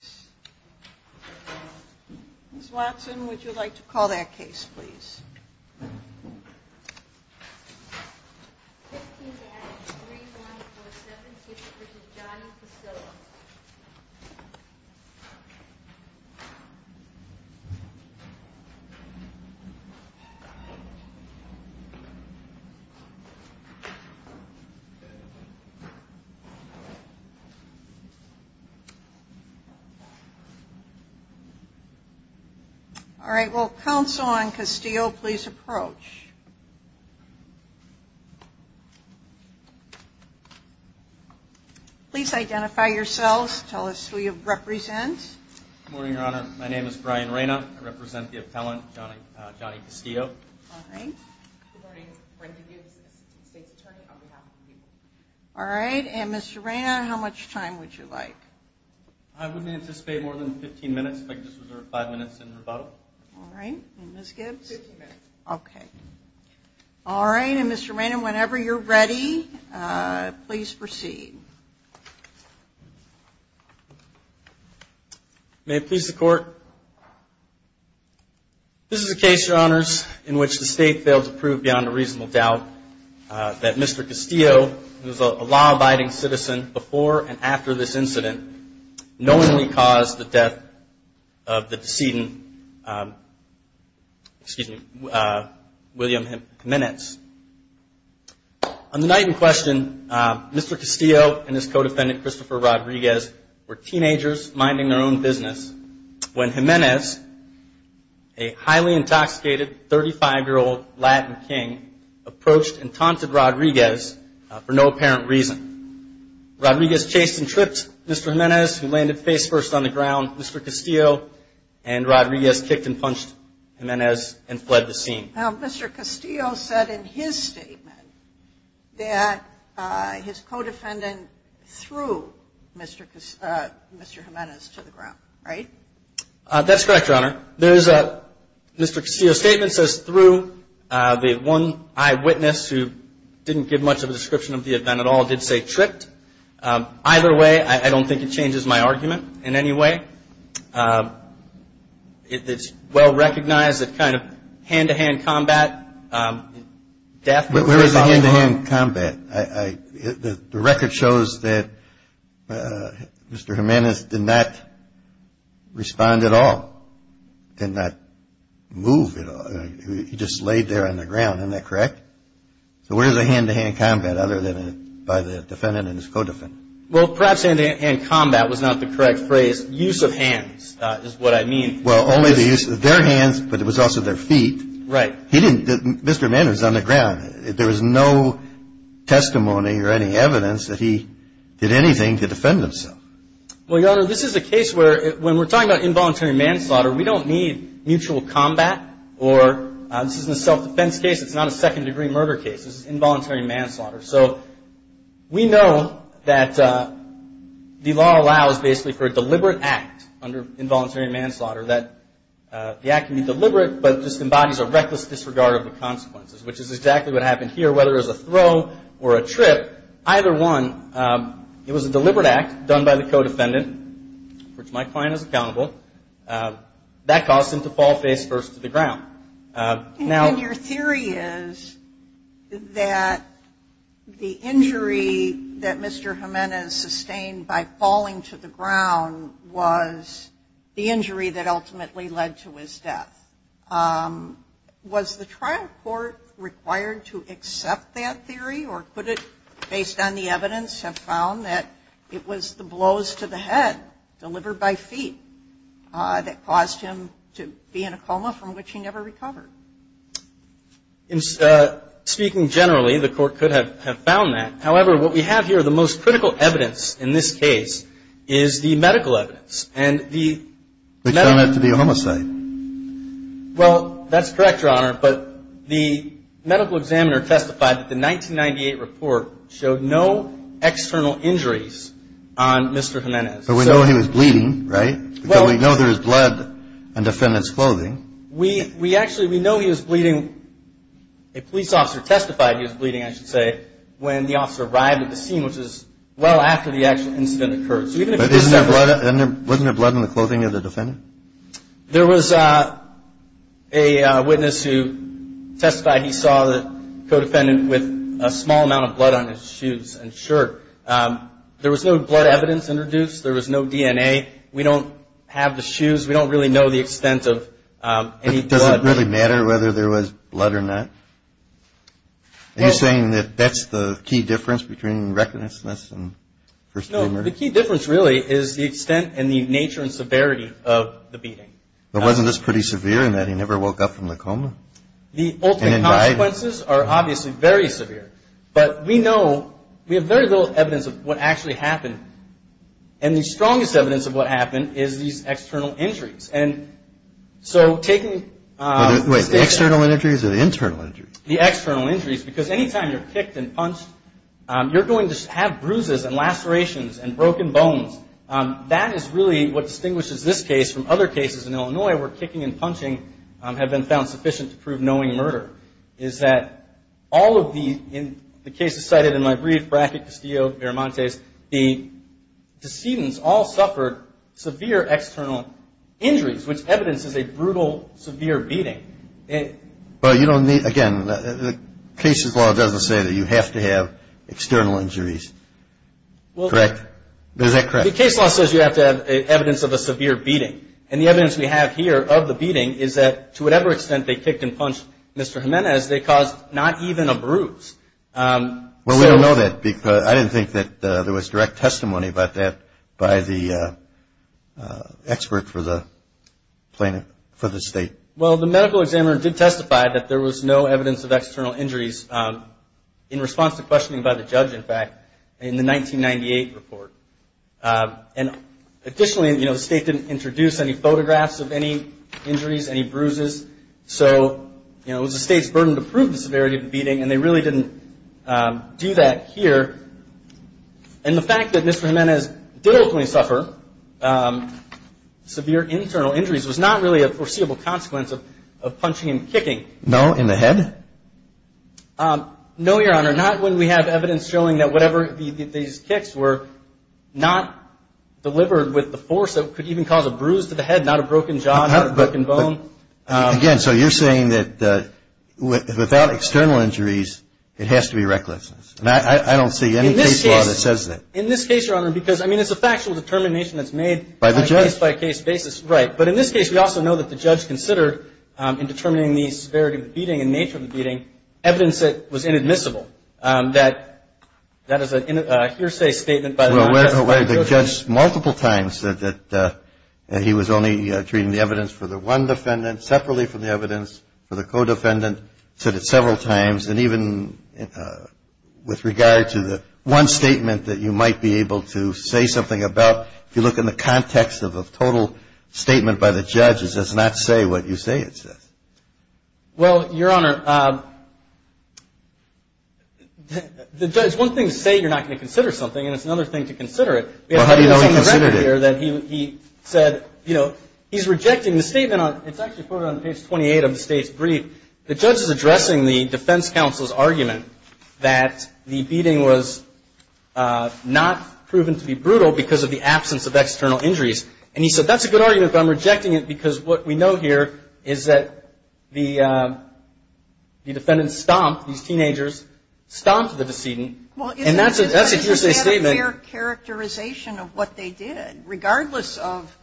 case. Ms. Watson, would you like to call that case, please? All right. Well, counsel on Castillo, please approach. Please identify yourselves. Tell us who you represent. Good morning, Your Honor. My name is Brian Reyna. I represent the appellant, Johnny Castillo. All right. Good morning. Brian DeGiovese. I'm the state's attorney on behalf of the people. All right. And, Mr. Reyna, how much time would you like? I would anticipate more than 15 minutes, if I could just reserve 5 minutes in rebuttal. All right. And Ms. Gibbs? Fifteen minutes. Okay. All right. And, Mr. Reyna, whenever you're ready, please proceed. May it please the Court, this is a case, Your Honors, in which the state failed to prove beyond a reasonable doubt that Mr. Castillo, who is a law-abiding citizen before and after this incident, knowingly caused the death of the decedent, William Jimenez. On the night in question, Mr. Castillo and his co-defendant, Christopher Rodriguez, were teenagers minding their own business when Jimenez, a highly intoxicated 35-year-old Latin king, approached and taunted Rodriguez for no apparent reason. Rodriguez chased and tripped Mr. Jimenez, who landed face-first on the ground. Mr. Castillo and Rodriguez kicked and punched Jimenez and fled the scene. Now, Mr. Castillo said in his statement that his co-defendant threw Mr. Jimenez to the ground, right? That's correct, Your Honor. There's a, Mr. Castillo's statement says, threw the one eyewitness who didn't give much of a description of the event at all, did say tripped. Either way, I don't think it changes my argument in any way. It's well recognized that kind of hand-to-hand combat, death was responsible. Where is the hand-to-hand combat? The record shows that Mr. Jimenez did not respond at all, did not move at all. He just laid there on the ground, isn't that correct? So where's the hand-to-hand combat other than by the defendant and his co-defendant? Well perhaps hand-to-hand combat was not the correct phrase. Use of hands is what I mean. Well only the use of their hands, but it was also their feet. Right. He didn't, Mr. Jimenez was on the ground. There was no testimony or any evidence that he did anything to defend himself. Well Your Honor, this is a case where when we're talking about involuntary manslaughter, we don't need mutual combat or this isn't a self-defense case, it's not a second-degree murder case. This is involuntary manslaughter. So we know that the law allows basically for a deliberate act under involuntary manslaughter that the act can be deliberate, but just embodies a reckless disregard of the consequences, which is exactly what happened here. Whether it was a throw or a trip, either one, it was a deliberate act done by the co-defendant, which Mike Klein is accountable. That caused him to fall face-first to the ground. Now And your theory is that the injury that Mr. Jimenez sustained by falling to the ground was the injury that ultimately led to his death. Was the trial court required to accept that theory, or could it, based on the evidence, have found that it was the blows to the head delivered by feet that caused him to be in a coma from which he never recovered? Speaking generally, the court could have found that. However, what we have here, the most critical evidence in this case is the medical evidence, and the Which turned out to be a homicide. Well, that's correct, Your Honor, but the medical examiner testified that the 1998 report showed no external injuries on Mr. Jimenez. But we know he was bleeding, right? Because we know there is blood on defendant's clothing. We actually, we know he was bleeding. A police officer testified he was bleeding, I should say, when the officer arrived at the scene, which was well after the actual incident occurred. So even if it was several But wasn't there blood on the clothing of the defendant? There was a witness who testified he saw the co-defendant with a small amount of blood on his shoes and shirt. There was no blood evidence introduced. There was no DNA. We don't have the shoes. We don't really know the extent of any blood. But does it really matter whether there was blood or not? Are you saying that that's the key difference between recklessness and first-demeanor? The key difference, really, is the extent and the nature and severity of the beating. But wasn't this pretty severe in that he never woke up from the coma? The ultimate consequences are obviously very severe. But we know, we have very little evidence of what actually happened. And the strongest evidence of what happened is these external injuries. And so taking Wait, the external injuries or the internal injuries? The external injuries, because any time you're kicked and punched, you're going to have bruises and lacerations and broken bones. That is really what distinguishes this case from other cases in Illinois where kicking and punching have been found sufficient to prove knowing murder, is that all of the, in the cases cited in my brief, Brackett, Castillo, Miramontes, the decedents all suffered severe external injuries, which evidence is a brutal, severe beating. But you don't need, again, the cases law doesn't say that you have to have external injuries. Correct. Is that correct? The case law says you have to have evidence of a severe beating. And the evidence we have here of the beating is that to whatever extent they kicked and punched Mr. Jimenez, they caused not even a bruise. Well, we don't know that because I didn't think that there was direct testimony about that by the expert for the state. Well, the medical examiner did testify that there was no evidence of external injuries in response to questioning by the judge, in fact, in the 1998 report. And additionally, you know, the state didn't introduce any photographs of any injuries, any bruises. So, you know, it was the state's burden to prove the severity of the beating and they really didn't do that here. And the fact that Mr. Jimenez did ultimately suffer severe internal injuries was not really a foreseeable consequence of punching and kicking. No, in the head? No, Your Honor. Not when we have evidence showing that whatever these kicks were not delivered with the force that could even cause a bruise to the head, not a broken jaw, not a broken bone. Again, so you're saying that without external injuries, it has to be recklessness. I don't see any case law that says that. In this case, Your Honor, because, I mean, it's a factual determination that's made on a case-by-case basis, right. But in this case, we also know that the judge considered in the severity of the beating and nature of the beating evidence that was inadmissible. That is a hearsay statement by the judge. Well, the judge multiple times said that he was only treating the evidence for the one defendant separately from the evidence for the co-defendant. He said it several times. And even with regard to the one statement that you might be able to say something about, if you look in the context of a total statement by the judge, it does not say what you say it says. Well, Your Honor, the judge, it's one thing to say you're not going to consider something, and it's another thing to consider it. Well, how do you know he considered it? We have evidence on the record here that he said, you know, he's rejecting the statement on, it's actually quoted on page 28 of the State's brief. The judge is addressing the defense counsel's argument that the beating was not proven to be brutal because of the absence of external injuries. And he said, that's a good argument, but I'm rejecting it because what we know here is that the defendant stomped, these teenagers, stomped the decedent. And that's a hearsay statement. Well, isn't the defendant just had a fair characterization of what they did, regardless of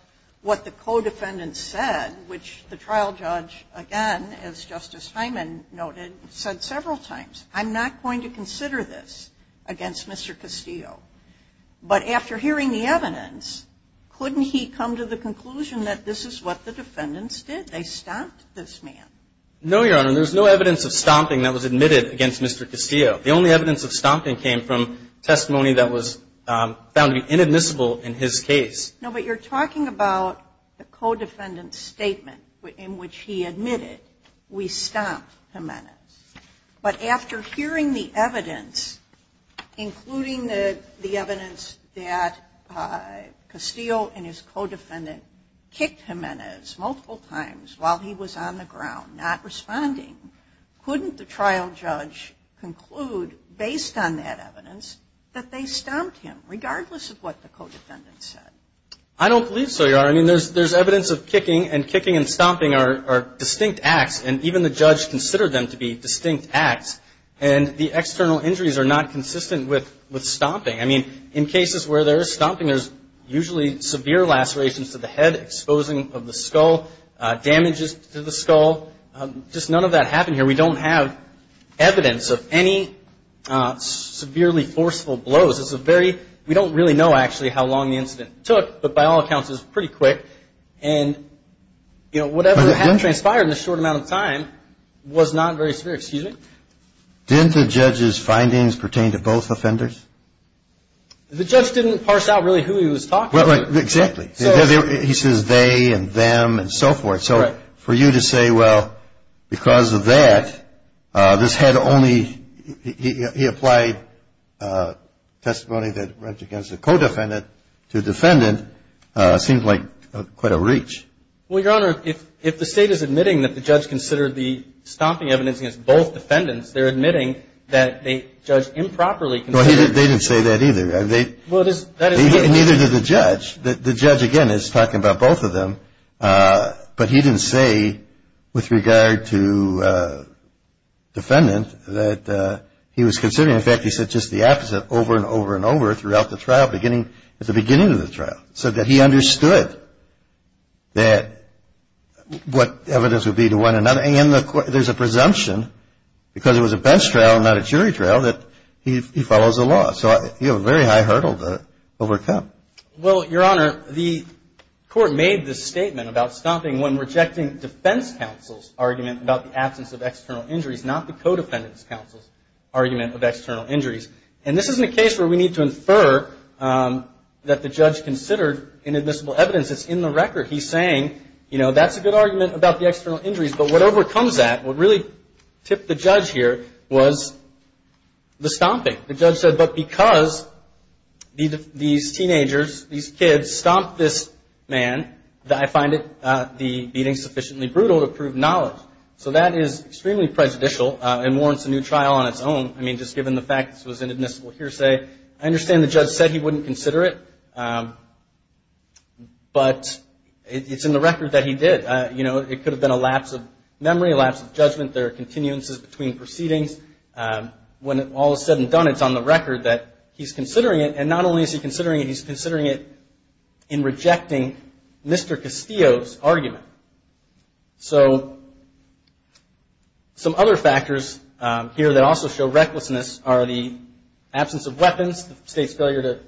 what the co-defendant said, which the trial judge, again, as Justice Hyman noted, said several times. I'm not going to consider this against Mr. Castillo. But after hearing the evidence, couldn't he come to the conclusion that this is what the defendants did? They stomped this man. No, Your Honor. There's no evidence of stomping that was admitted against Mr. Castillo. The only evidence of stomping came from testimony that was found to be inadmissible in his case. No, but you're talking about the co-defendant's statement in which he admitted, we stomped Jimenez. But after hearing the evidence, including the evidence that Castillo and his co-defendant kicked Jimenez multiple times while he was on the ground, not responding, couldn't the trial judge conclude, based on that evidence, that they stomped him, regardless of what the co-defendant said? I don't believe so, Your Honor. I mean, there's evidence of kicking and kicking and stomping are distinct acts, and even the judge considered them to be distinct acts. And the external injuries are not consistent with stomping. I mean, in cases where there's stomping, there's usually severe lacerations to the head, exposing of the skull, damages to the skull. Just none of that happened here. We don't have evidence of any severely forceful blows. It's a very – we don't really know, actually, how long the incident took, but by all accounts, it hadn't transpired in a short amount of time, was not very severe. Excuse me? Didn't the judge's findings pertain to both offenders? The judge didn't parse out really who he was talking to. Exactly. He says they and them and so forth. So for you to say, well, because of that, this had only – he applied testimony that went against the co-defendant to defendant seemed like quite a reach. Well, Your Honor, if the State is admitting that the judge considered the stomping evidence against both defendants, they're admitting that the judge improperly considered – Well, they didn't say that either. Well, it is – Neither did the judge. The judge, again, is talking about both of them, but he didn't say with regard to defendant that he was considering – in fact, he said just the opposite over and over and over throughout the trial beginning – at the beginning of the trial, so that he understood that – what evidence would be to one another. And there's a presumption, because it was a bench trial, not a jury trial, that he follows the law. So you have a very high hurdle to overcome. Well, Your Honor, the Court made this statement about stomping when rejecting defense counsel's argument about the absence of external injuries, not the co-defendant's counsel's argument of external injuries. And this isn't a case where we need to infer that the judge considered inadmissible evidence. It's in the record. He's saying, you know, that's a good argument about the external injuries, but what overcomes that, what really tipped the judge here, was the stomping. The judge said, but because these teenagers, these kids, stomped this man, I find it – the beating sufficiently brutal to prove knowledge. So that is extremely prejudicial and warrants a new trial on its own. I mean, just given the fact this was the case, I wouldn't consider it. But it's in the record that he did. You know, it could have been a lapse of memory, a lapse of judgment. There are continuances between proceedings. When all is said and done, it's on the record that he's considering it. And not only is he considering it, he's considering it in rejecting Mr. Castillo's argument. So some other factors here that also show recklessness are the absence of weapons, the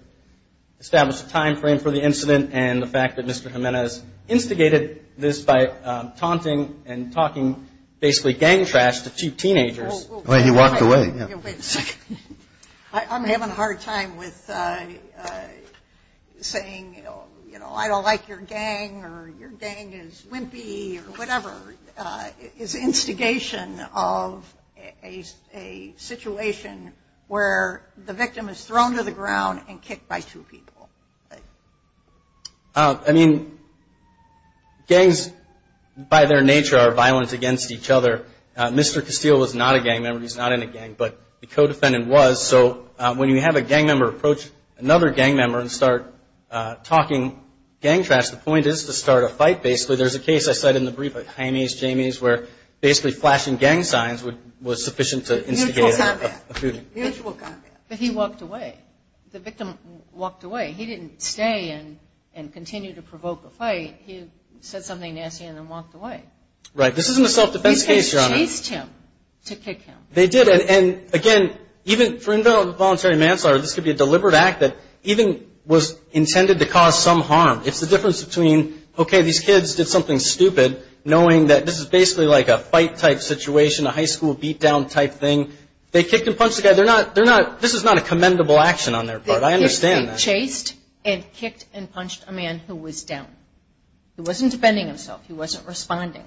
establishment of a time frame for the incident, and the fact that Mr. Jimenez instigated this by taunting and talking basically gang trash to two teenagers. Well, he walked away. Wait a second. I'm having a hard time with saying, you know, I don't like your gang or your gang is wimpy or whatever. It's instigation of a situation where the victim is thrown to the ground and kicked by two people. I mean, gangs by their nature are violent against each other. Mr. Castillo was not a gang member. He's not in a gang. But the co-defendant was. So when you have a gang member approach another gang member and start talking gang trash, the point is to start a fight basically. There's a case I cite in the brief of Jaime's, Jamie's, where basically flashing gang signs was sufficient to instigate a feud. Mutual combat. But he walked away. The victim walked away. He didn't stay and continue to provoke a fight. He said something nasty and then walked away. Right. This isn't a self-defense case, Your Honor. They chased him to kick him. They did. And again, even for involuntary manslaughter, this could be a deliberate act that even was intended to cause some harm. It's the difference between, okay, these kids did something stupid, knowing that this is basically like a fight-type situation, a high They kicked and punched the guy. They're not, they're not, this is not a commendable action on their part. I understand that. They chased and kicked and punched a man who was down. He wasn't defending himself. He wasn't responding.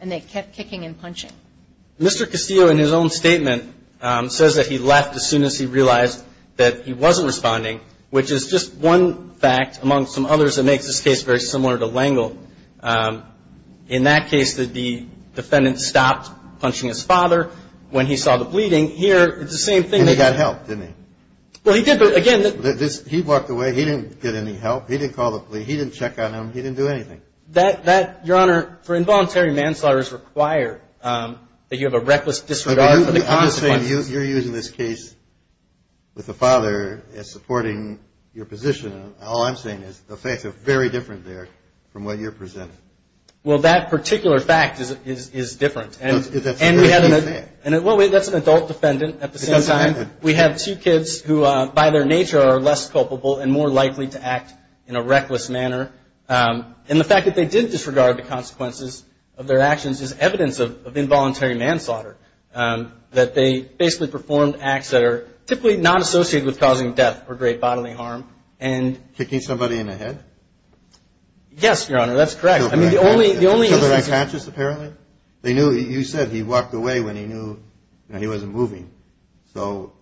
And they kept kicking and punching. Mr. Castillo in his own statement says that he left as soon as he realized that he wasn't responding, which is just one fact among some others that makes this case very similar to L'Engle. In that case, the defendant stopped punching his father when he saw the bleeding. Here, it's the same thing. And he got help, didn't he? Well, he did, but again, that He walked away. He didn't get any help. He didn't call the police. He didn't check on him. He didn't do anything. Your Honor, for involuntary manslaughter, it's required that you have a reckless disregard for the consequences. You're using this case with the father as supporting your position. All I'm saying is the facts are very different there from what you're presenting. Well, that particular fact is different. That's a very big fact. Well, that's an adult defendant at the same time. We have two kids who, by their nature, are less culpable and more likely to act in a reckless manner. And the fact that they did disregard the consequences of their actions is evidence of involuntary manslaughter, that they basically performed acts that are typically not associated with causing death or great bodily harm. Kicking somebody in the head? Yes, Your Honor, that's correct. Kill the right patches, apparently? You said he walked away when he knew he wasn't moving. So,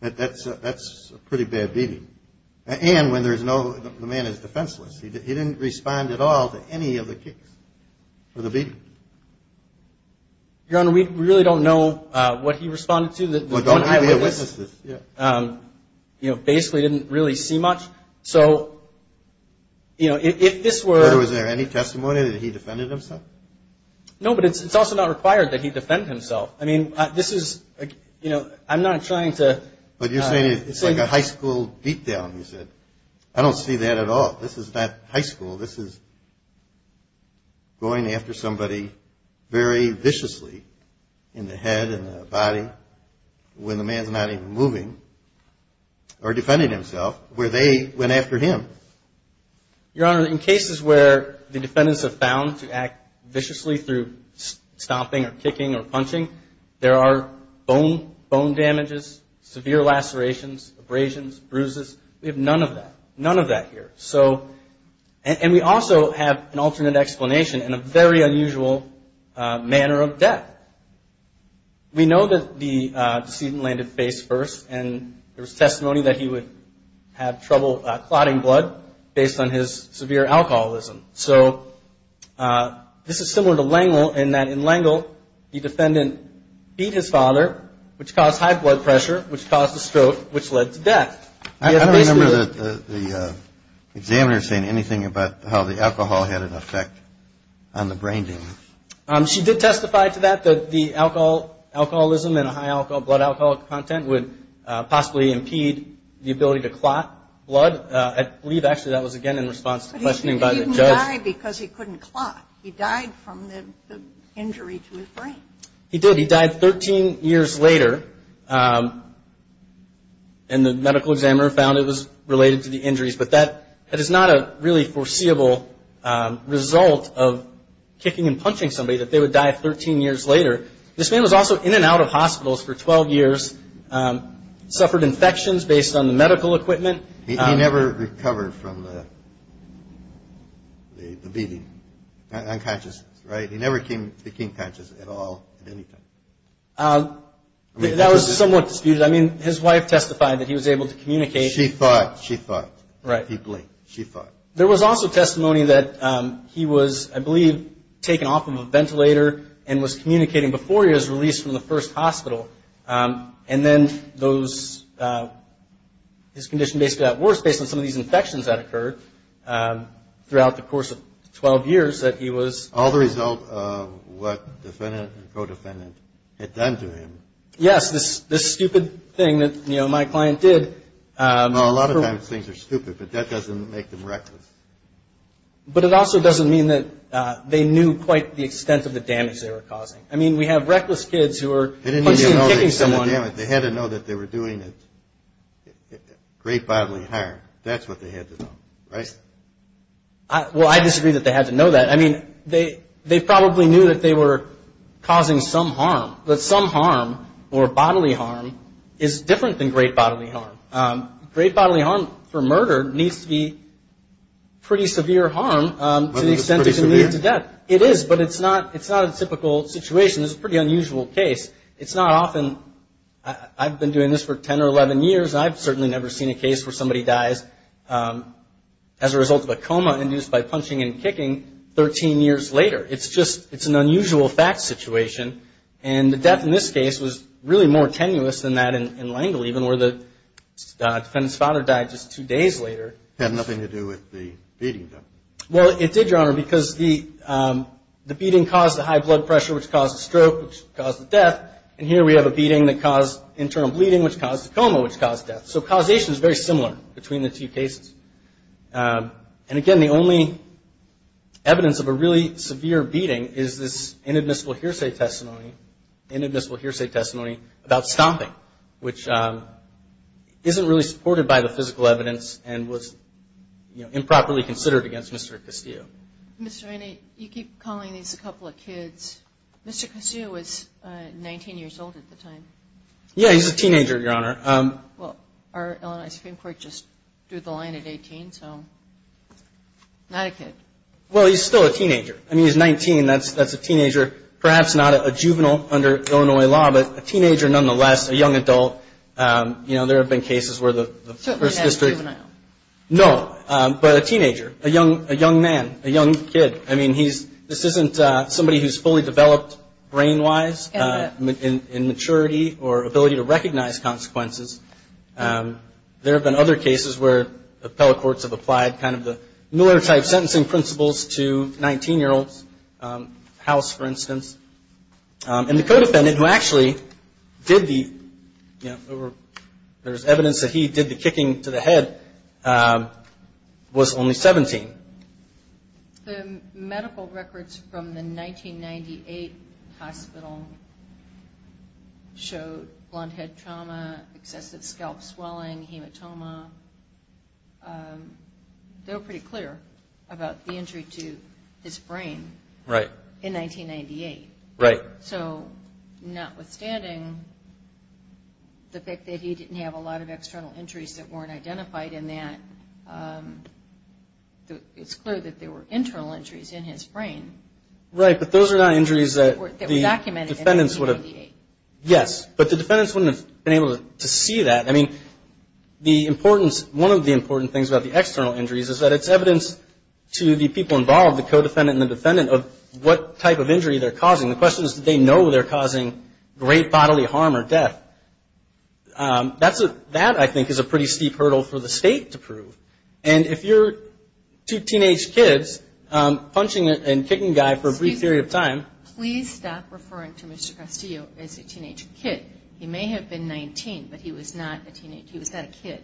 that's a pretty bad beating. And when there's no, the man is defenseless. He didn't respond at all to any of the kicks or the beating. Your Honor, we really don't know what he responded to. Well, don't have any witnesses. Basically, didn't really see much. So, you know, if this were... Was there any testimony that he defended himself? No, but it's also not required that he defend himself. I mean, this is, you know, I'm not trying to... But you're saying it's like a high school beat down, you said. I don't see that at all. This is not high school. This is going after somebody very viciously in the head and the body when the man's not even moving, or defending himself, where they went after him. Your Honor, in cases where the defendants have found to act viciously through stomping or kicking or punching, there are bone damages, severe lacerations, abrasions, bruises. We have none of that. None of that here. So, and we also have an alternate explanation and a very unusual manner of death. We know that the decedent landed face first and there was testimony that he would have trouble clotting blood based on his severe alcoholism. So this is similar to Lengel in that in Lengel, the defendant beat his father, which caused high blood pressure, which caused a stroke, which led to death. I don't remember the examiner saying anything about how the alcohol had an effect on the brain damage. She did testify to that, that the alcoholism and high blood alcohol content would possibly impede the ability to clot blood. I believe, actually, that was again in response to questioning by the judge. But he didn't die because he couldn't clot. He died from the injury to his brain. He did. He died 13 years later and the medical examiner found it was related to the injuries. But that is not a really foreseeable result of kicking and punching somebody that they would die 13 years later. This man was also in and out of hospitals for 12 years, suffered infections based on the medical equipment. He never recovered from the beating, unconsciousness, right? He never became conscious at all at any time. That was somewhat disputed. I mean, his wife testified that he was able to communicate. She fought. She fought. He blinked. She fought. There was also testimony that he was, I believe, taken off of a ventilator and was communicating before he was released from the first hospital. And then his condition basically got worse based on some of these infections that occurred throughout the course of 12 years that he was. All the result of what defendant and co-defendant had done to him. Yes, this stupid thing that, you know, my client did. Well, a lot of times things are stupid, but that doesn't make them reckless. But it also doesn't mean that they knew quite the extent of the damage they were causing. I mean, we have reckless kids who are punching and kicking someone. They had to know that they were doing great bodily harm. That's what they had to know, right? Well, I disagree that they had to know that. I mean, they probably knew that they were causing some harm. But some harm or bodily harm is different than great bodily harm. Great bodily harm for murder needs to be pretty severe harm to the extent it can lead to death. It is, but it's not a typical situation. It's a pretty unusual case. It's not often. I've been doing this for 10 or 11 years. I've certainly never seen a case where somebody dies as a result of a coma induced by punching and kicking 13 years later. It's just an unusual fact situation. And the death in this case was really more tenuous than that in L'Engle, even, where the defendant's father died just two days later. It had nothing to do with the beating, though. Well, it did, Your Honor, because the beating caused the high blood pressure, which caused the stroke, which caused the death. And here we have a beating that caused internal bleeding, which caused a coma, which caused death. So causation is very similar between the two cases. And, again, the only evidence of a really severe beating is this inadmissible hearsay testimony, inadmissible hearsay testimony about stomping, which isn't really supported by the physical evidence and was improperly considered against Mr. Castillo. Ms. Rainey, you keep calling these a couple of kids. Mr. Castillo was 19 years old at the time. Yeah, he was a teenager, Your Honor. Well, our Illinois Supreme Court just drew the line at 18, so not a kid. Well, he's still a teenager. I mean, he's 19. That's a teenager, perhaps not a juvenile under Illinois law, but a teenager nonetheless, a young adult. You know, there have been cases where the first district – Certainly not a juvenile. No, but a teenager, a young man, a young kid. I mean, this isn't somebody who's fully developed brain-wise in maturity or ability to recognize consequences. There have been other cases where appellate courts have applied kind of the Miller-type sentencing principles to a 19-year-old's house, for instance. And the co-defendant, who actually did the – there's evidence that he did the kicking to the head, was only 17. The medical records from the 1998 hospital showed blonde head trauma, excessive scalp swelling, hematoma. They were pretty clear about the injury to his brain. Right. In 1998. Right. So notwithstanding the fact that he didn't have a lot of external injuries that weren't identified in that, it's clear that there were internal injuries in his brain. Right, but those are not injuries that the defendants would have – That were documented in 1998. Yes, but the defendants wouldn't have been able to see that. I mean, the importance – one of the important things about the external injuries is that it's evidence to the people involved, the co-defendant and the defendant, of what type of injury they're causing. The question is, did they know they're causing great bodily harm or death? That, I think, is a pretty steep hurdle for the State to prove. And if you're two teenage kids punching and kicking a guy for a brief period of time – Please stop referring to Mr. Castillo as a teenage kid. He may have been 19, but he was not a teenager. He was not a kid.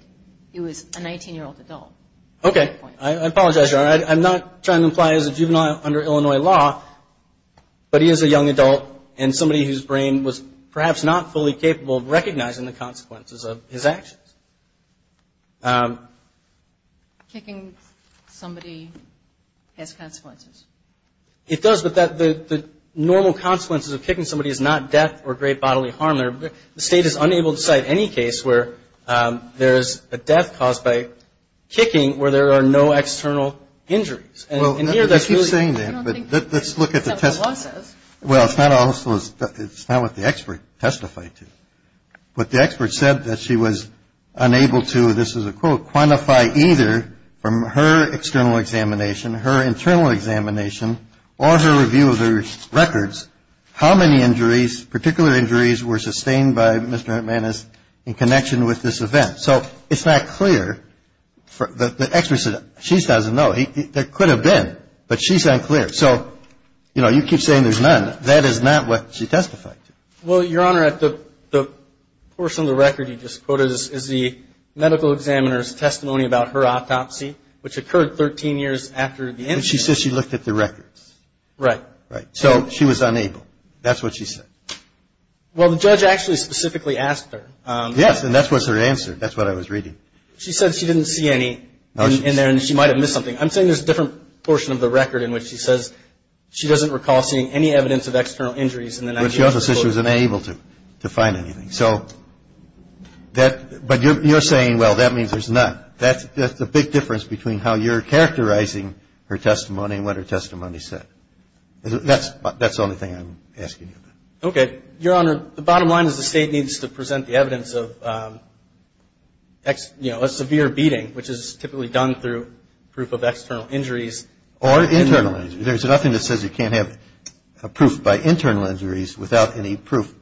He was a 19-year-old adult. Okay. I apologize, Your Honor. I'm not trying to imply he was a juvenile under Illinois law, but he is a young adult and somebody whose brain was perhaps not fully capable of recognizing the consequences of his actions. Kicking somebody has consequences. It does, but the normal consequences of kicking somebody is not death or great bodily harm. The State is unable to cite any case where there is a death caused by kicking where there are no external injuries. And here that's really – Well, I keep saying that, but let's look at the – I don't think that's what the law says. Well, it's not also – it's not what the expert testified to. What the expert said that she was unable to, this is a quote, quantify either from her external examination, her internal examination, or her review of the records, how many injuries, particular injuries were sustained by Mr. Hernandez in connection with this event. So it's not clear. The expert said she doesn't know. There could have been, but she's unclear. So, you know, you keep saying there's none. That is not what she testified to. Well, Your Honor, the portion of the record you just quoted is the medical examiner's testimony about her autopsy, which occurred 13 years after the incident. But she said she looked at the records. Right. Right. So she was unable. That's what she said. Well, the judge actually specifically asked her. Yes, and that was her answer. That's what I was reading. She said she didn't see any in there and she might have missed something. I'm saying there's a different portion of the record in which she says she doesn't recall seeing any evidence of external injuries. But she also says she was unable to find anything. So that – but you're saying, well, that means there's none. That's the big difference between how you're characterizing her testimony and what her testimony said. That's the only thing I'm asking you about. Okay. Your Honor, the bottom line is the State needs to present the evidence of, you know, a severe beating, which is typically done through proof of external injuries. Or internal injuries. There's nothing that says you can't have proof by internal injuries without any proof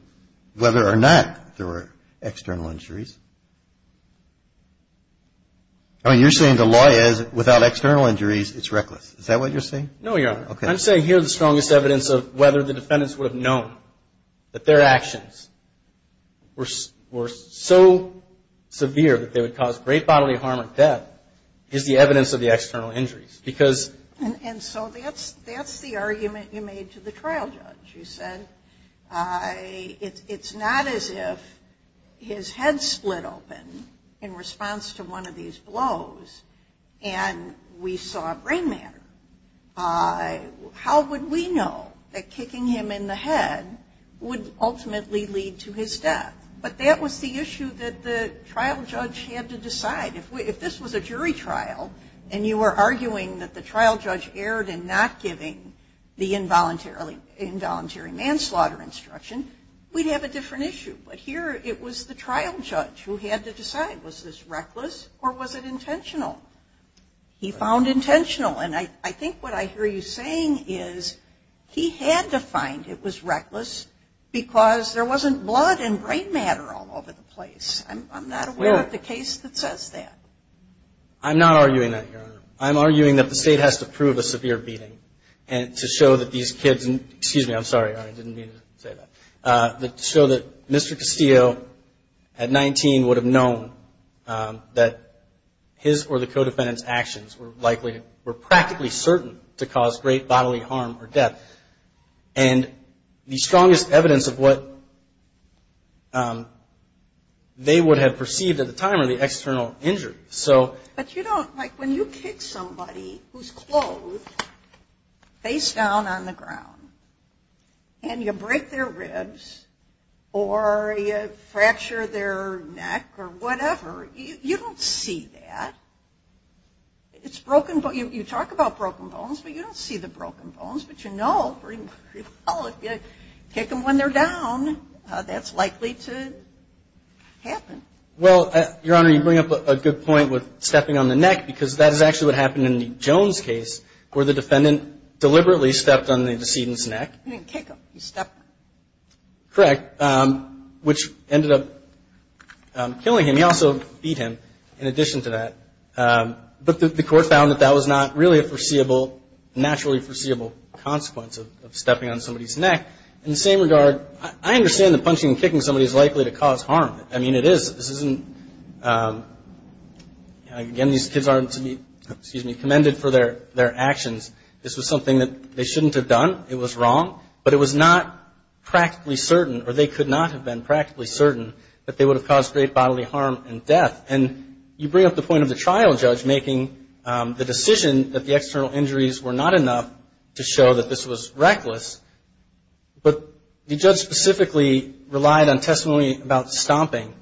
whether or not there were external injuries. I mean, you're saying the law is without external injuries, it's reckless. Is that what you're saying? No, Your Honor. Okay. I'm saying here the strongest evidence of whether the defendants would have known that their actions were so severe that they would cause great bodily harm or death is the evidence of the external injuries. Because – And so that's the argument you made to the trial judge. You said it's not as if his head split open in response to one of these blows and we saw brain matter. How would we know that kicking him in the head would ultimately lead to his death? But that was the issue that the trial judge had to decide. If this was a jury trial and you were arguing that the trial judge erred in not giving the involuntary manslaughter instruction, we'd have a different issue. But here it was the trial judge who had to decide. Was this reckless or was it intentional? He found intentional. And I think what I hear you saying is he had to find it was reckless because there wasn't blood and brain matter all over the place. I'm not aware of the case that says that. I'm not arguing that, Your Honor. I'm arguing that the State has to prove a severe beating to show that these kids – excuse me, I'm sorry, Your Honor, I didn't mean to say that – to show that Mr. Castillo at 19 would have known that his or the co-defendant's actions were likely – were practically certain to cause great bodily harm or death. And the strongest evidence of what they would have perceived at the time are the external injuries. But you don't – like when you kick somebody who's clothed face down on the ground and you break their ribs or you fracture their neck or whatever, you don't see that. It's broken – you talk about broken bones, but you don't see the broken bones. But you know pretty well if you kick them when they're down, that's likely to happen. Well, Your Honor, you bring up a good point with stepping on the neck because that is actually what happened in the Jones case where the defendant deliberately stepped on the decedent's neck. You didn't kick him. You stepped on him. Correct. Which ended up killing him. I mean, he also beat him in addition to that. But the court found that that was not really a foreseeable – naturally foreseeable consequence of stepping on somebody's neck. In the same regard, I understand that punching and kicking somebody is likely to cause harm. I mean, it is – this isn't – again, these kids aren't to be commended for their actions. This was something that they shouldn't have done. It was wrong. But it was not practically certain or they could not have been practically certain that they would have caused great bodily harm and death. And you bring up the point of the trial judge making the decision that the external injuries were not enough to show that this was reckless. But the judge specifically relied on testimony about stomping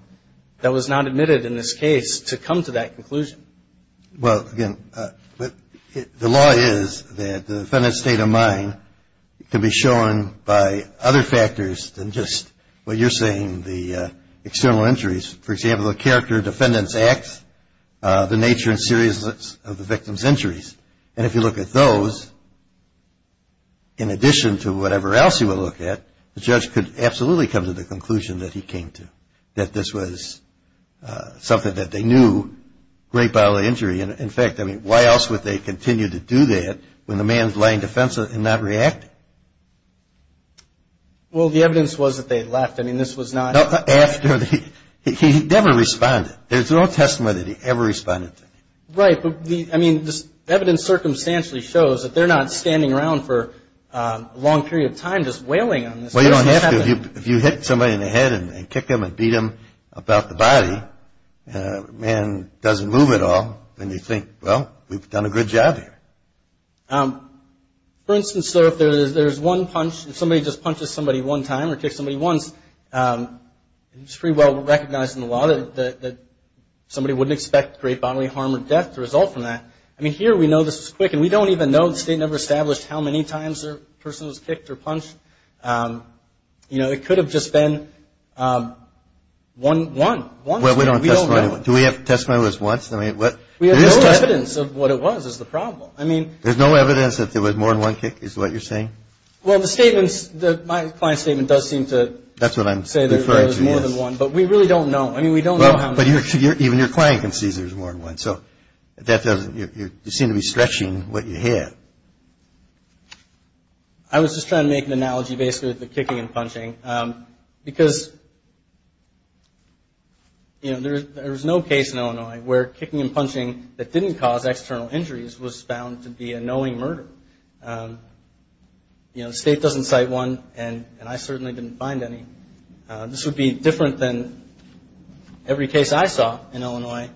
that was not admitted in this case to come to that conclusion. Well, again, the law is that the defendant's state of mind can be shown by other factors than just what you're saying, the external injuries. For example, the character of the defendant's acts, the nature and seriousness of the victim's injuries. And if you look at those, in addition to whatever else you would look at, the judge could absolutely come to the conclusion that he came to, that this was something that they knew, great bodily injury. In fact, I mean, why else would they continue to do that when the man is lying defensive and not reacting? Well, the evidence was that they left. I mean, this was not – No, after the – he never responded. There's no testimony that he ever responded to. Right. But, I mean, this evidence circumstantially shows that they're not standing around for a long period of time just wailing on this. Well, you don't have to. If you hit somebody in the head and kick them and beat them about the body, the man doesn't move at all. Then you think, well, we've done a good job here. For instance, sir, if there's one punch, if somebody just punches somebody one time or kicks somebody once, it's pretty well recognized in the law that somebody wouldn't expect great bodily harm or death to result from that. I mean, here we know this was quick, and we don't even know the state never established how many times a person was kicked or punched. You know, it could have just been one, one, one. Well, we don't have testimony. We don't know. Do we have testimony that it was once? I mean, what? We have no evidence of what it was is the problem. I mean. There's no evidence that there was more than one kick is what you're saying? Well, the statements, my client's statement does seem to. That's what I'm referring to, yes. Say there was more than one. But we really don't know. I mean, we don't know how many. Well, but even your client can see there's more than one. So that doesn't, you seem to be stretching what you hear. I was just trying to make an analogy basically with the kicking and punching because, you know, there's no case in Illinois where kicking and punching that didn't cause external injuries was found to be a knowing murder. You know, the state doesn't cite one, and I certainly didn't find any. This would be different than every case I saw in Illinois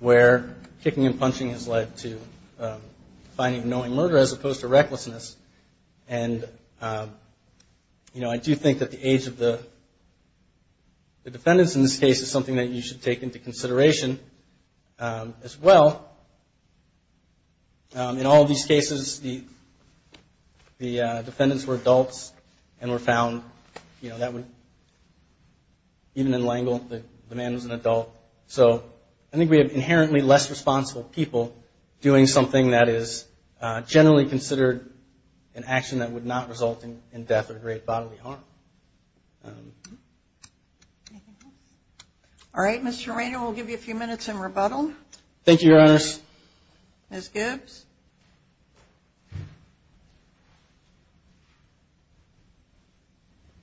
where kicking and punching has led to finding a knowing murder as opposed to recklessness. And, you know, I do think that the age of the defendants in this case is something that you should take into consideration as well. In all of these cases, the defendants were adults and were found, you know, even in L'Engle, the man was an adult. So I think we have inherently less responsible people doing something that is generally considered an action that would not result in death or great bodily harm. All right, Mr. Romano, we'll give you a few minutes in rebuttal. Thank you, Your Honors. Ms. Gibbs.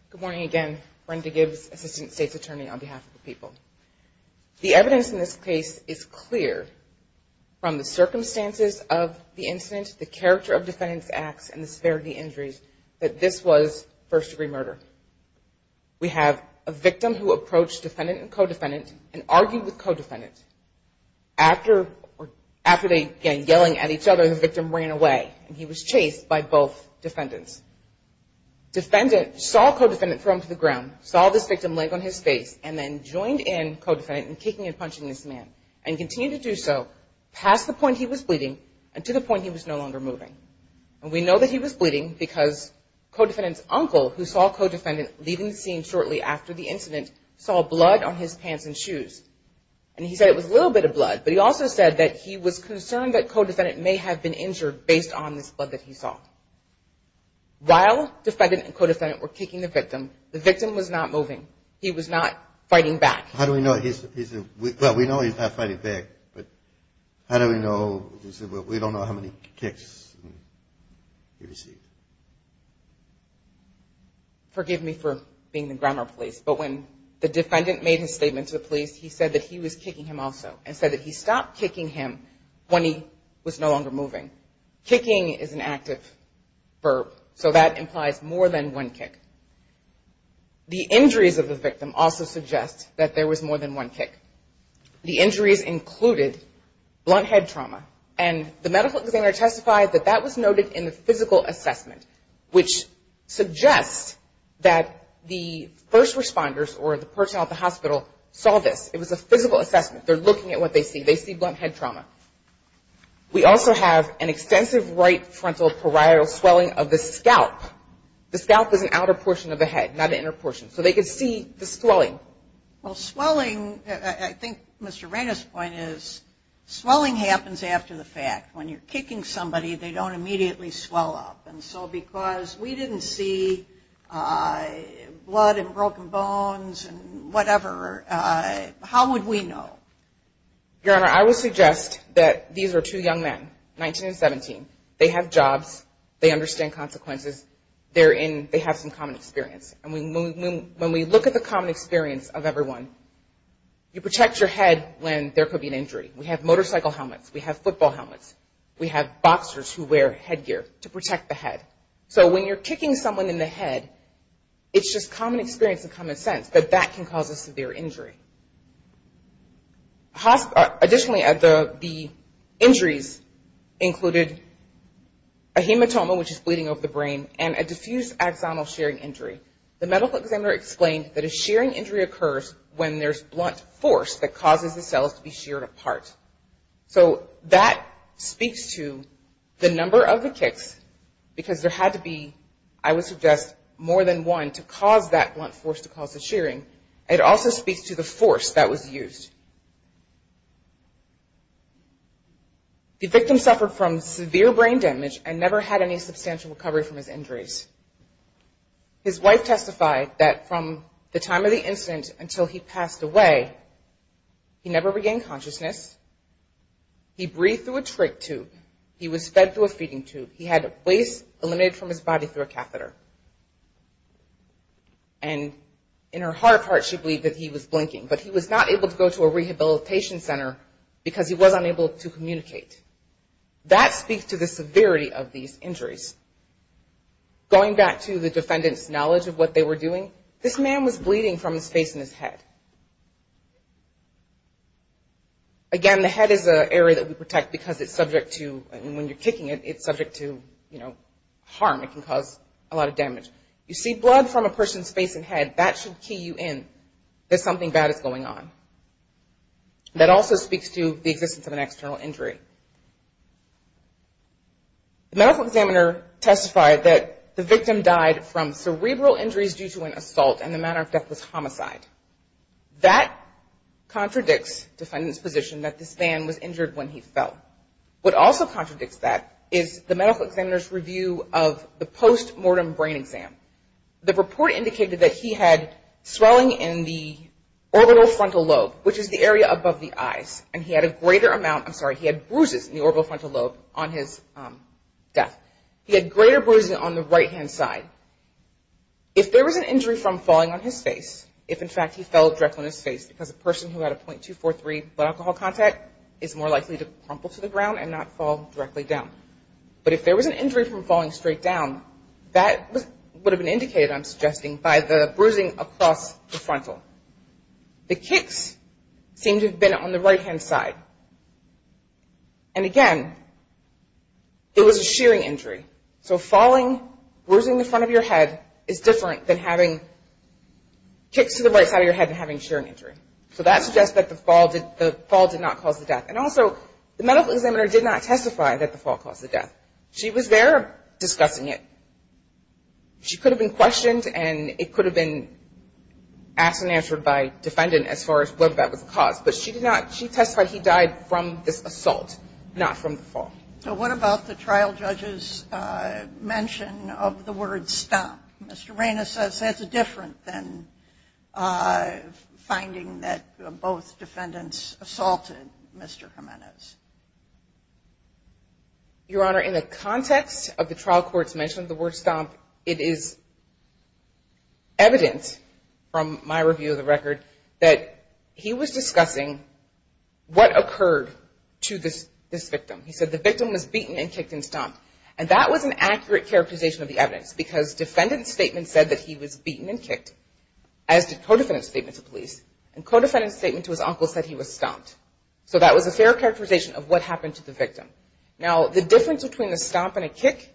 Good morning again. Brenda Gibbs, Assistant State's Attorney on behalf of the people. The evidence in this case is clear from the circumstances of the incident, the character of defendants' acts, and the severity of the injuries that this was first-degree murder. We have a victim who approached defendant and co-defendant and argued with co-defendant after they began yelling at each other and the victim ran away and he was chased by both defendants. Defendant saw co-defendant throw him to the ground, saw this victim laying on his face, and then joined in co-defendant in kicking and punching this man and continued to do so past the point he was bleeding and to the point he was no longer moving. And we know that he was bleeding because co-defendant's uncle, who saw co-defendant leaving the scene shortly after the incident, saw blood on his pants and shoes. And he said it was a little bit of blood, but he also said that he was concerned that co-defendant may have been injured based on this blood that he saw. While defendant and co-defendant were kicking the victim, the victim was not moving. He was not fighting back. How do we know he's not fighting back? How do we know? We don't know how many kicks he received. Forgive me for being the grammar police, but when the defendant made his statement to the police, he said that he was kicking him also and said that he stopped kicking him when he was no longer moving. Kicking is an active verb, so that implies more than one kick. The injuries of the victim also suggest that there was more than one kick. The injuries included blunt head trauma. And the medical examiner testified that that was noted in the physical assessment, which suggests that the first responders or the person at the hospital saw this. It was a physical assessment. They're looking at what they see. They see blunt head trauma. We also have an extensive right frontal parietal swelling of the scalp. The scalp is an outer portion of the head, not an inner portion. So they could see the swelling. Well, swelling, I think Mr. Reina's point is swelling happens after the fact. When you're kicking somebody, they don't immediately swell up. And so because we didn't see blood and broken bones and whatever, how would we know? Your Honor, I would suggest that these are two young men, 19 and 17. They have jobs. They understand consequences. They have some common experience. And when we look at the common experience of everyone, you protect your head when there could be an injury. We have motorcycle helmets. We have football helmets. We have boxers who wear headgear to protect the head. So when you're kicking someone in the head, it's just common experience and common sense that that can cause a severe injury. Additionally, the injuries included a hematoma, which is bleeding over the brain, and a diffused axonal shearing injury. The medical examiner explained that a shearing injury occurs when there's blunt force that causes the cells to be sheared apart. So that speaks to the number of the kicks because there had to be, I would suggest, more than one to cause that blunt force to cause the shearing. It also speaks to the force that was used. The victim suffered from severe brain damage and never had any substantial recovery from his injuries. His wife testified that from the time of the incident until he passed away, he never regained consciousness. He breathed through a trach tube. He was fed through a feeding tube. He had waste eliminated from his body through a catheter. And in her heart of hearts, she believed that he was blinking. But he was not able to go to a rehabilitation center because he was unable to communicate. That speaks to the severity of these injuries. Going back to the defendant's knowledge of what they were doing, this man was bleeding from his face and his head. Again, the head is an area that we protect because it's subject to, when you're kicking it, it's subject to, you know, harm. It can cause a lot of damage. You see blood from a person's face and head. That should key you in that something bad is going on. That also speaks to the existence of an external injury. The medical examiner testified that the victim died from cerebral injuries due to an assault and the manner of death was homicide. That contradicts defendant's position that this man was injured when he fell. What also contradicts that is the medical examiner's review of the post-mortem brain exam. The report indicated that he had swelling in the orbital frontal lobe, which is the area above the eyes. And he had a greater amount, I'm sorry, he had bruises in the orbital frontal lobe on his death. He had greater bruises on the right-hand side. If there was an injury from falling on his face, if in fact he fell directly on his face because a person who had a .243 blood alcohol contact is more likely to crumple to the ground and not fall directly down. But if there was an injury from falling straight down, that would have been indicated, I'm suggesting, by the bruising across the frontal. The kicks seem to have been on the right-hand side. And again, it was a shearing injury. So falling, bruising the front of your head is different than having kicks to the right side of your head and having shearing injury. So that suggests that the fall did not cause the death. And also, the medical examiner did not testify that the fall caused the death. She was there discussing it. She could have been questioned and it could have been asked and answered by a defendant as far as whether that was the cause. But she testified he died from this assault, not from the fall. So what about the trial judge's mention of the word stop? Mr. Reynos says that's different than finding that both defendants assaulted Mr. Jimenez. Your Honor, in the context of the trial court's mention of the word stomp, it is evidence from my review of the record that he was discussing what occurred to this victim. He said the victim was beaten and kicked and stomped. And that was an accurate characterization of the evidence because defendant's statement said that he was beaten and kicked, as did co-defendant's statement to police. And co-defendant's statement to his uncle said he was stomped. So that was a fair characterization of what happened to the victim. Now, the difference between a stomp and a kick,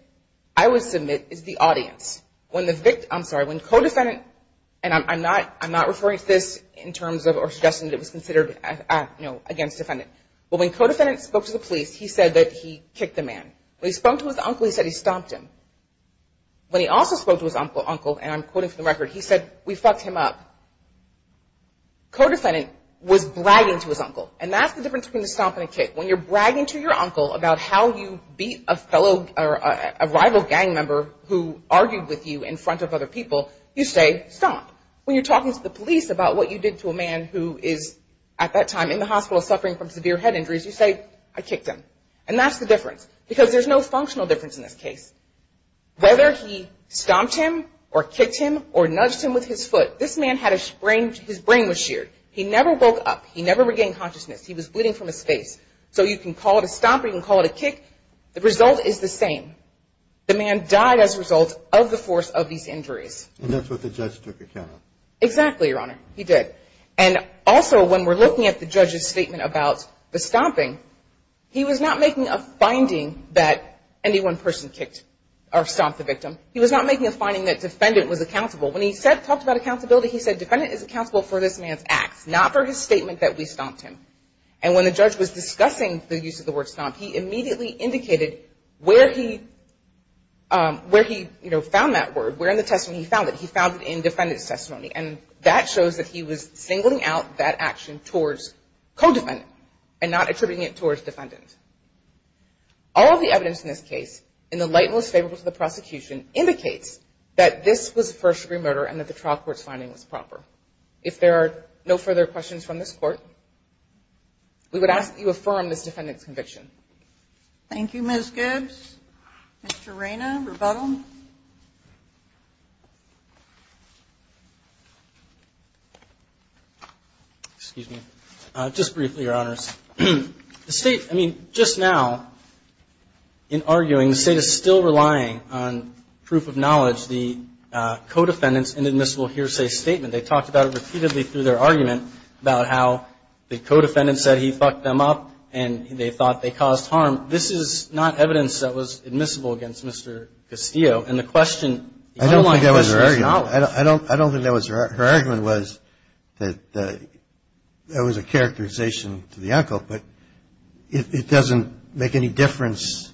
I would submit, is the audience. When the victim, I'm sorry, when co-defendant, and I'm not referring to this in terms of or suggesting it was considered, you know, against defendant. But when co-defendant spoke to the police, he said that he kicked the man. When he spoke to his uncle, he said he stomped him. When he also spoke to his uncle, and I'm quoting from the record, he said, we fucked him up. Co-defendant was bragging to his uncle. And that's the difference between a stomp and a kick. When you're bragging to your uncle about how you beat a fellow or a rival gang member who argued with you in front of other people, you say, stomp. When you're talking to the police about what you did to a man who is at that time in the hospital suffering from severe head injuries, you say, I kicked him. And that's the difference. Because there's no functional difference in this case. Whether he stomped him or kicked him or nudged him with his foot, this man had his brain, his brain was sheared. He never woke up. He never regained consciousness. He was bleeding from his face. So you can call it a stomp. You can call it a kick. The result is the same. The man died as a result of the force of these injuries. And that's what the judge took account of. Exactly, Your Honor. He did. And also, when we're looking at the judge's statement about the stomping, he was not making a finding that any one person kicked or stomped the victim. He was not making a finding that defendant was accountable. When he talked about accountability, he said, defendant is accountable for this man's acts, not for his statement that we stomped him. And when the judge was discussing the use of the word stomp, he immediately indicated where he, you know, found that word, where in the testimony he found it. He found it in defendant's testimony. And that shows that he was singling out that action towards co-defendant and not attributing it towards defendant. All of the evidence in this case, in the light most favorable to the prosecution, indicates that this was a first-degree murder and that the trial court's finding was proper. If there are no further questions from this court, we would ask that you affirm this defendant's conviction. Thank you, Ms. Gibbs. Mr. Rayna, rebuttal. Excuse me. Just briefly, Your Honors. The State, I mean, just now, in arguing, the State is still relying on proof of knowledge, the co-defendant's inadmissible hearsay statement. They talked about it repeatedly through their argument about how the co-defendant said he fucked them up and they thought they caused harm. This is not evidence that was admissible against Mr. Castillo. And the question, the underlying question is knowledge. I don't think that was her argument. Her argument was that there was a characterization to the uncle, but it doesn't make any difference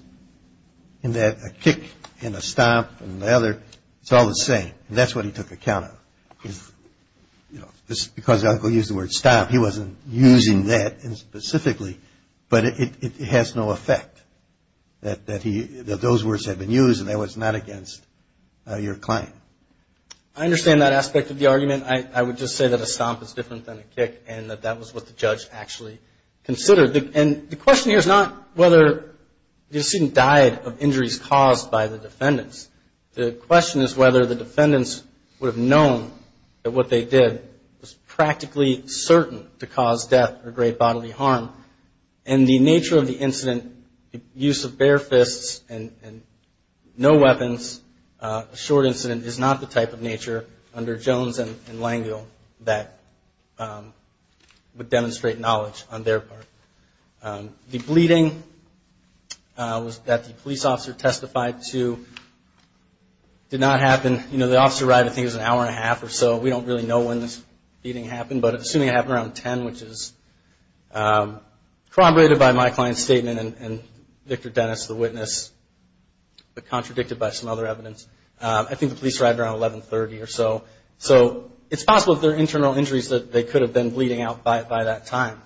in that a kick and a stomp and the other, it's all the same. And that's what he took account of. You know, because the uncle used the word stomp, he wasn't using that specifically, but it has no effect that those words had been used and that was not against your client. I understand that aspect of the argument. I would just say that a stomp is different than a kick and that that was what the judge actually considered. And the question here is not whether the decedent died of injuries caused by the defendants. The question is whether the defendants would have known that what they did was practically certain to cause death or great bodily harm. And the nature of the incident, the use of bare fists and no weapons, a short incident, is not the type of nature under Jones and Langel that would demonstrate knowledge on their part. The bleeding that the police officer testified to did not happen. You know, the officer arrived, I think it was an hour and a half or so. We don't really know when this beating happened, but assuming it happened around 10, which is corroborated by my client's statement and Victor Dennis, the witness, but contradicted by some other evidence. I think the police arrived around 1130 or so. So it's possible there are internal injuries that they could have been bleeding out by that time.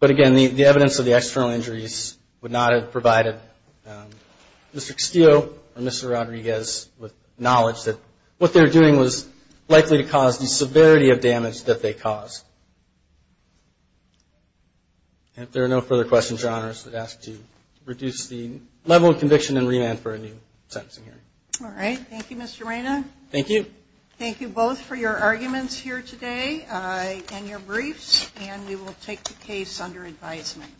But again, the evidence of the external injuries would not have provided Mr. Castillo or Mr. Rodriguez with knowledge that what they were doing was likely to cause the severity of damage that they caused. And if there are no further questions, your Honor is asked to reduce the level of conviction and remand for a new sentencing hearing. All right. Thank you, Mr. Reyna. Thank you. Thank you both for your arguments here today and your briefs. And we will take the case under advisement.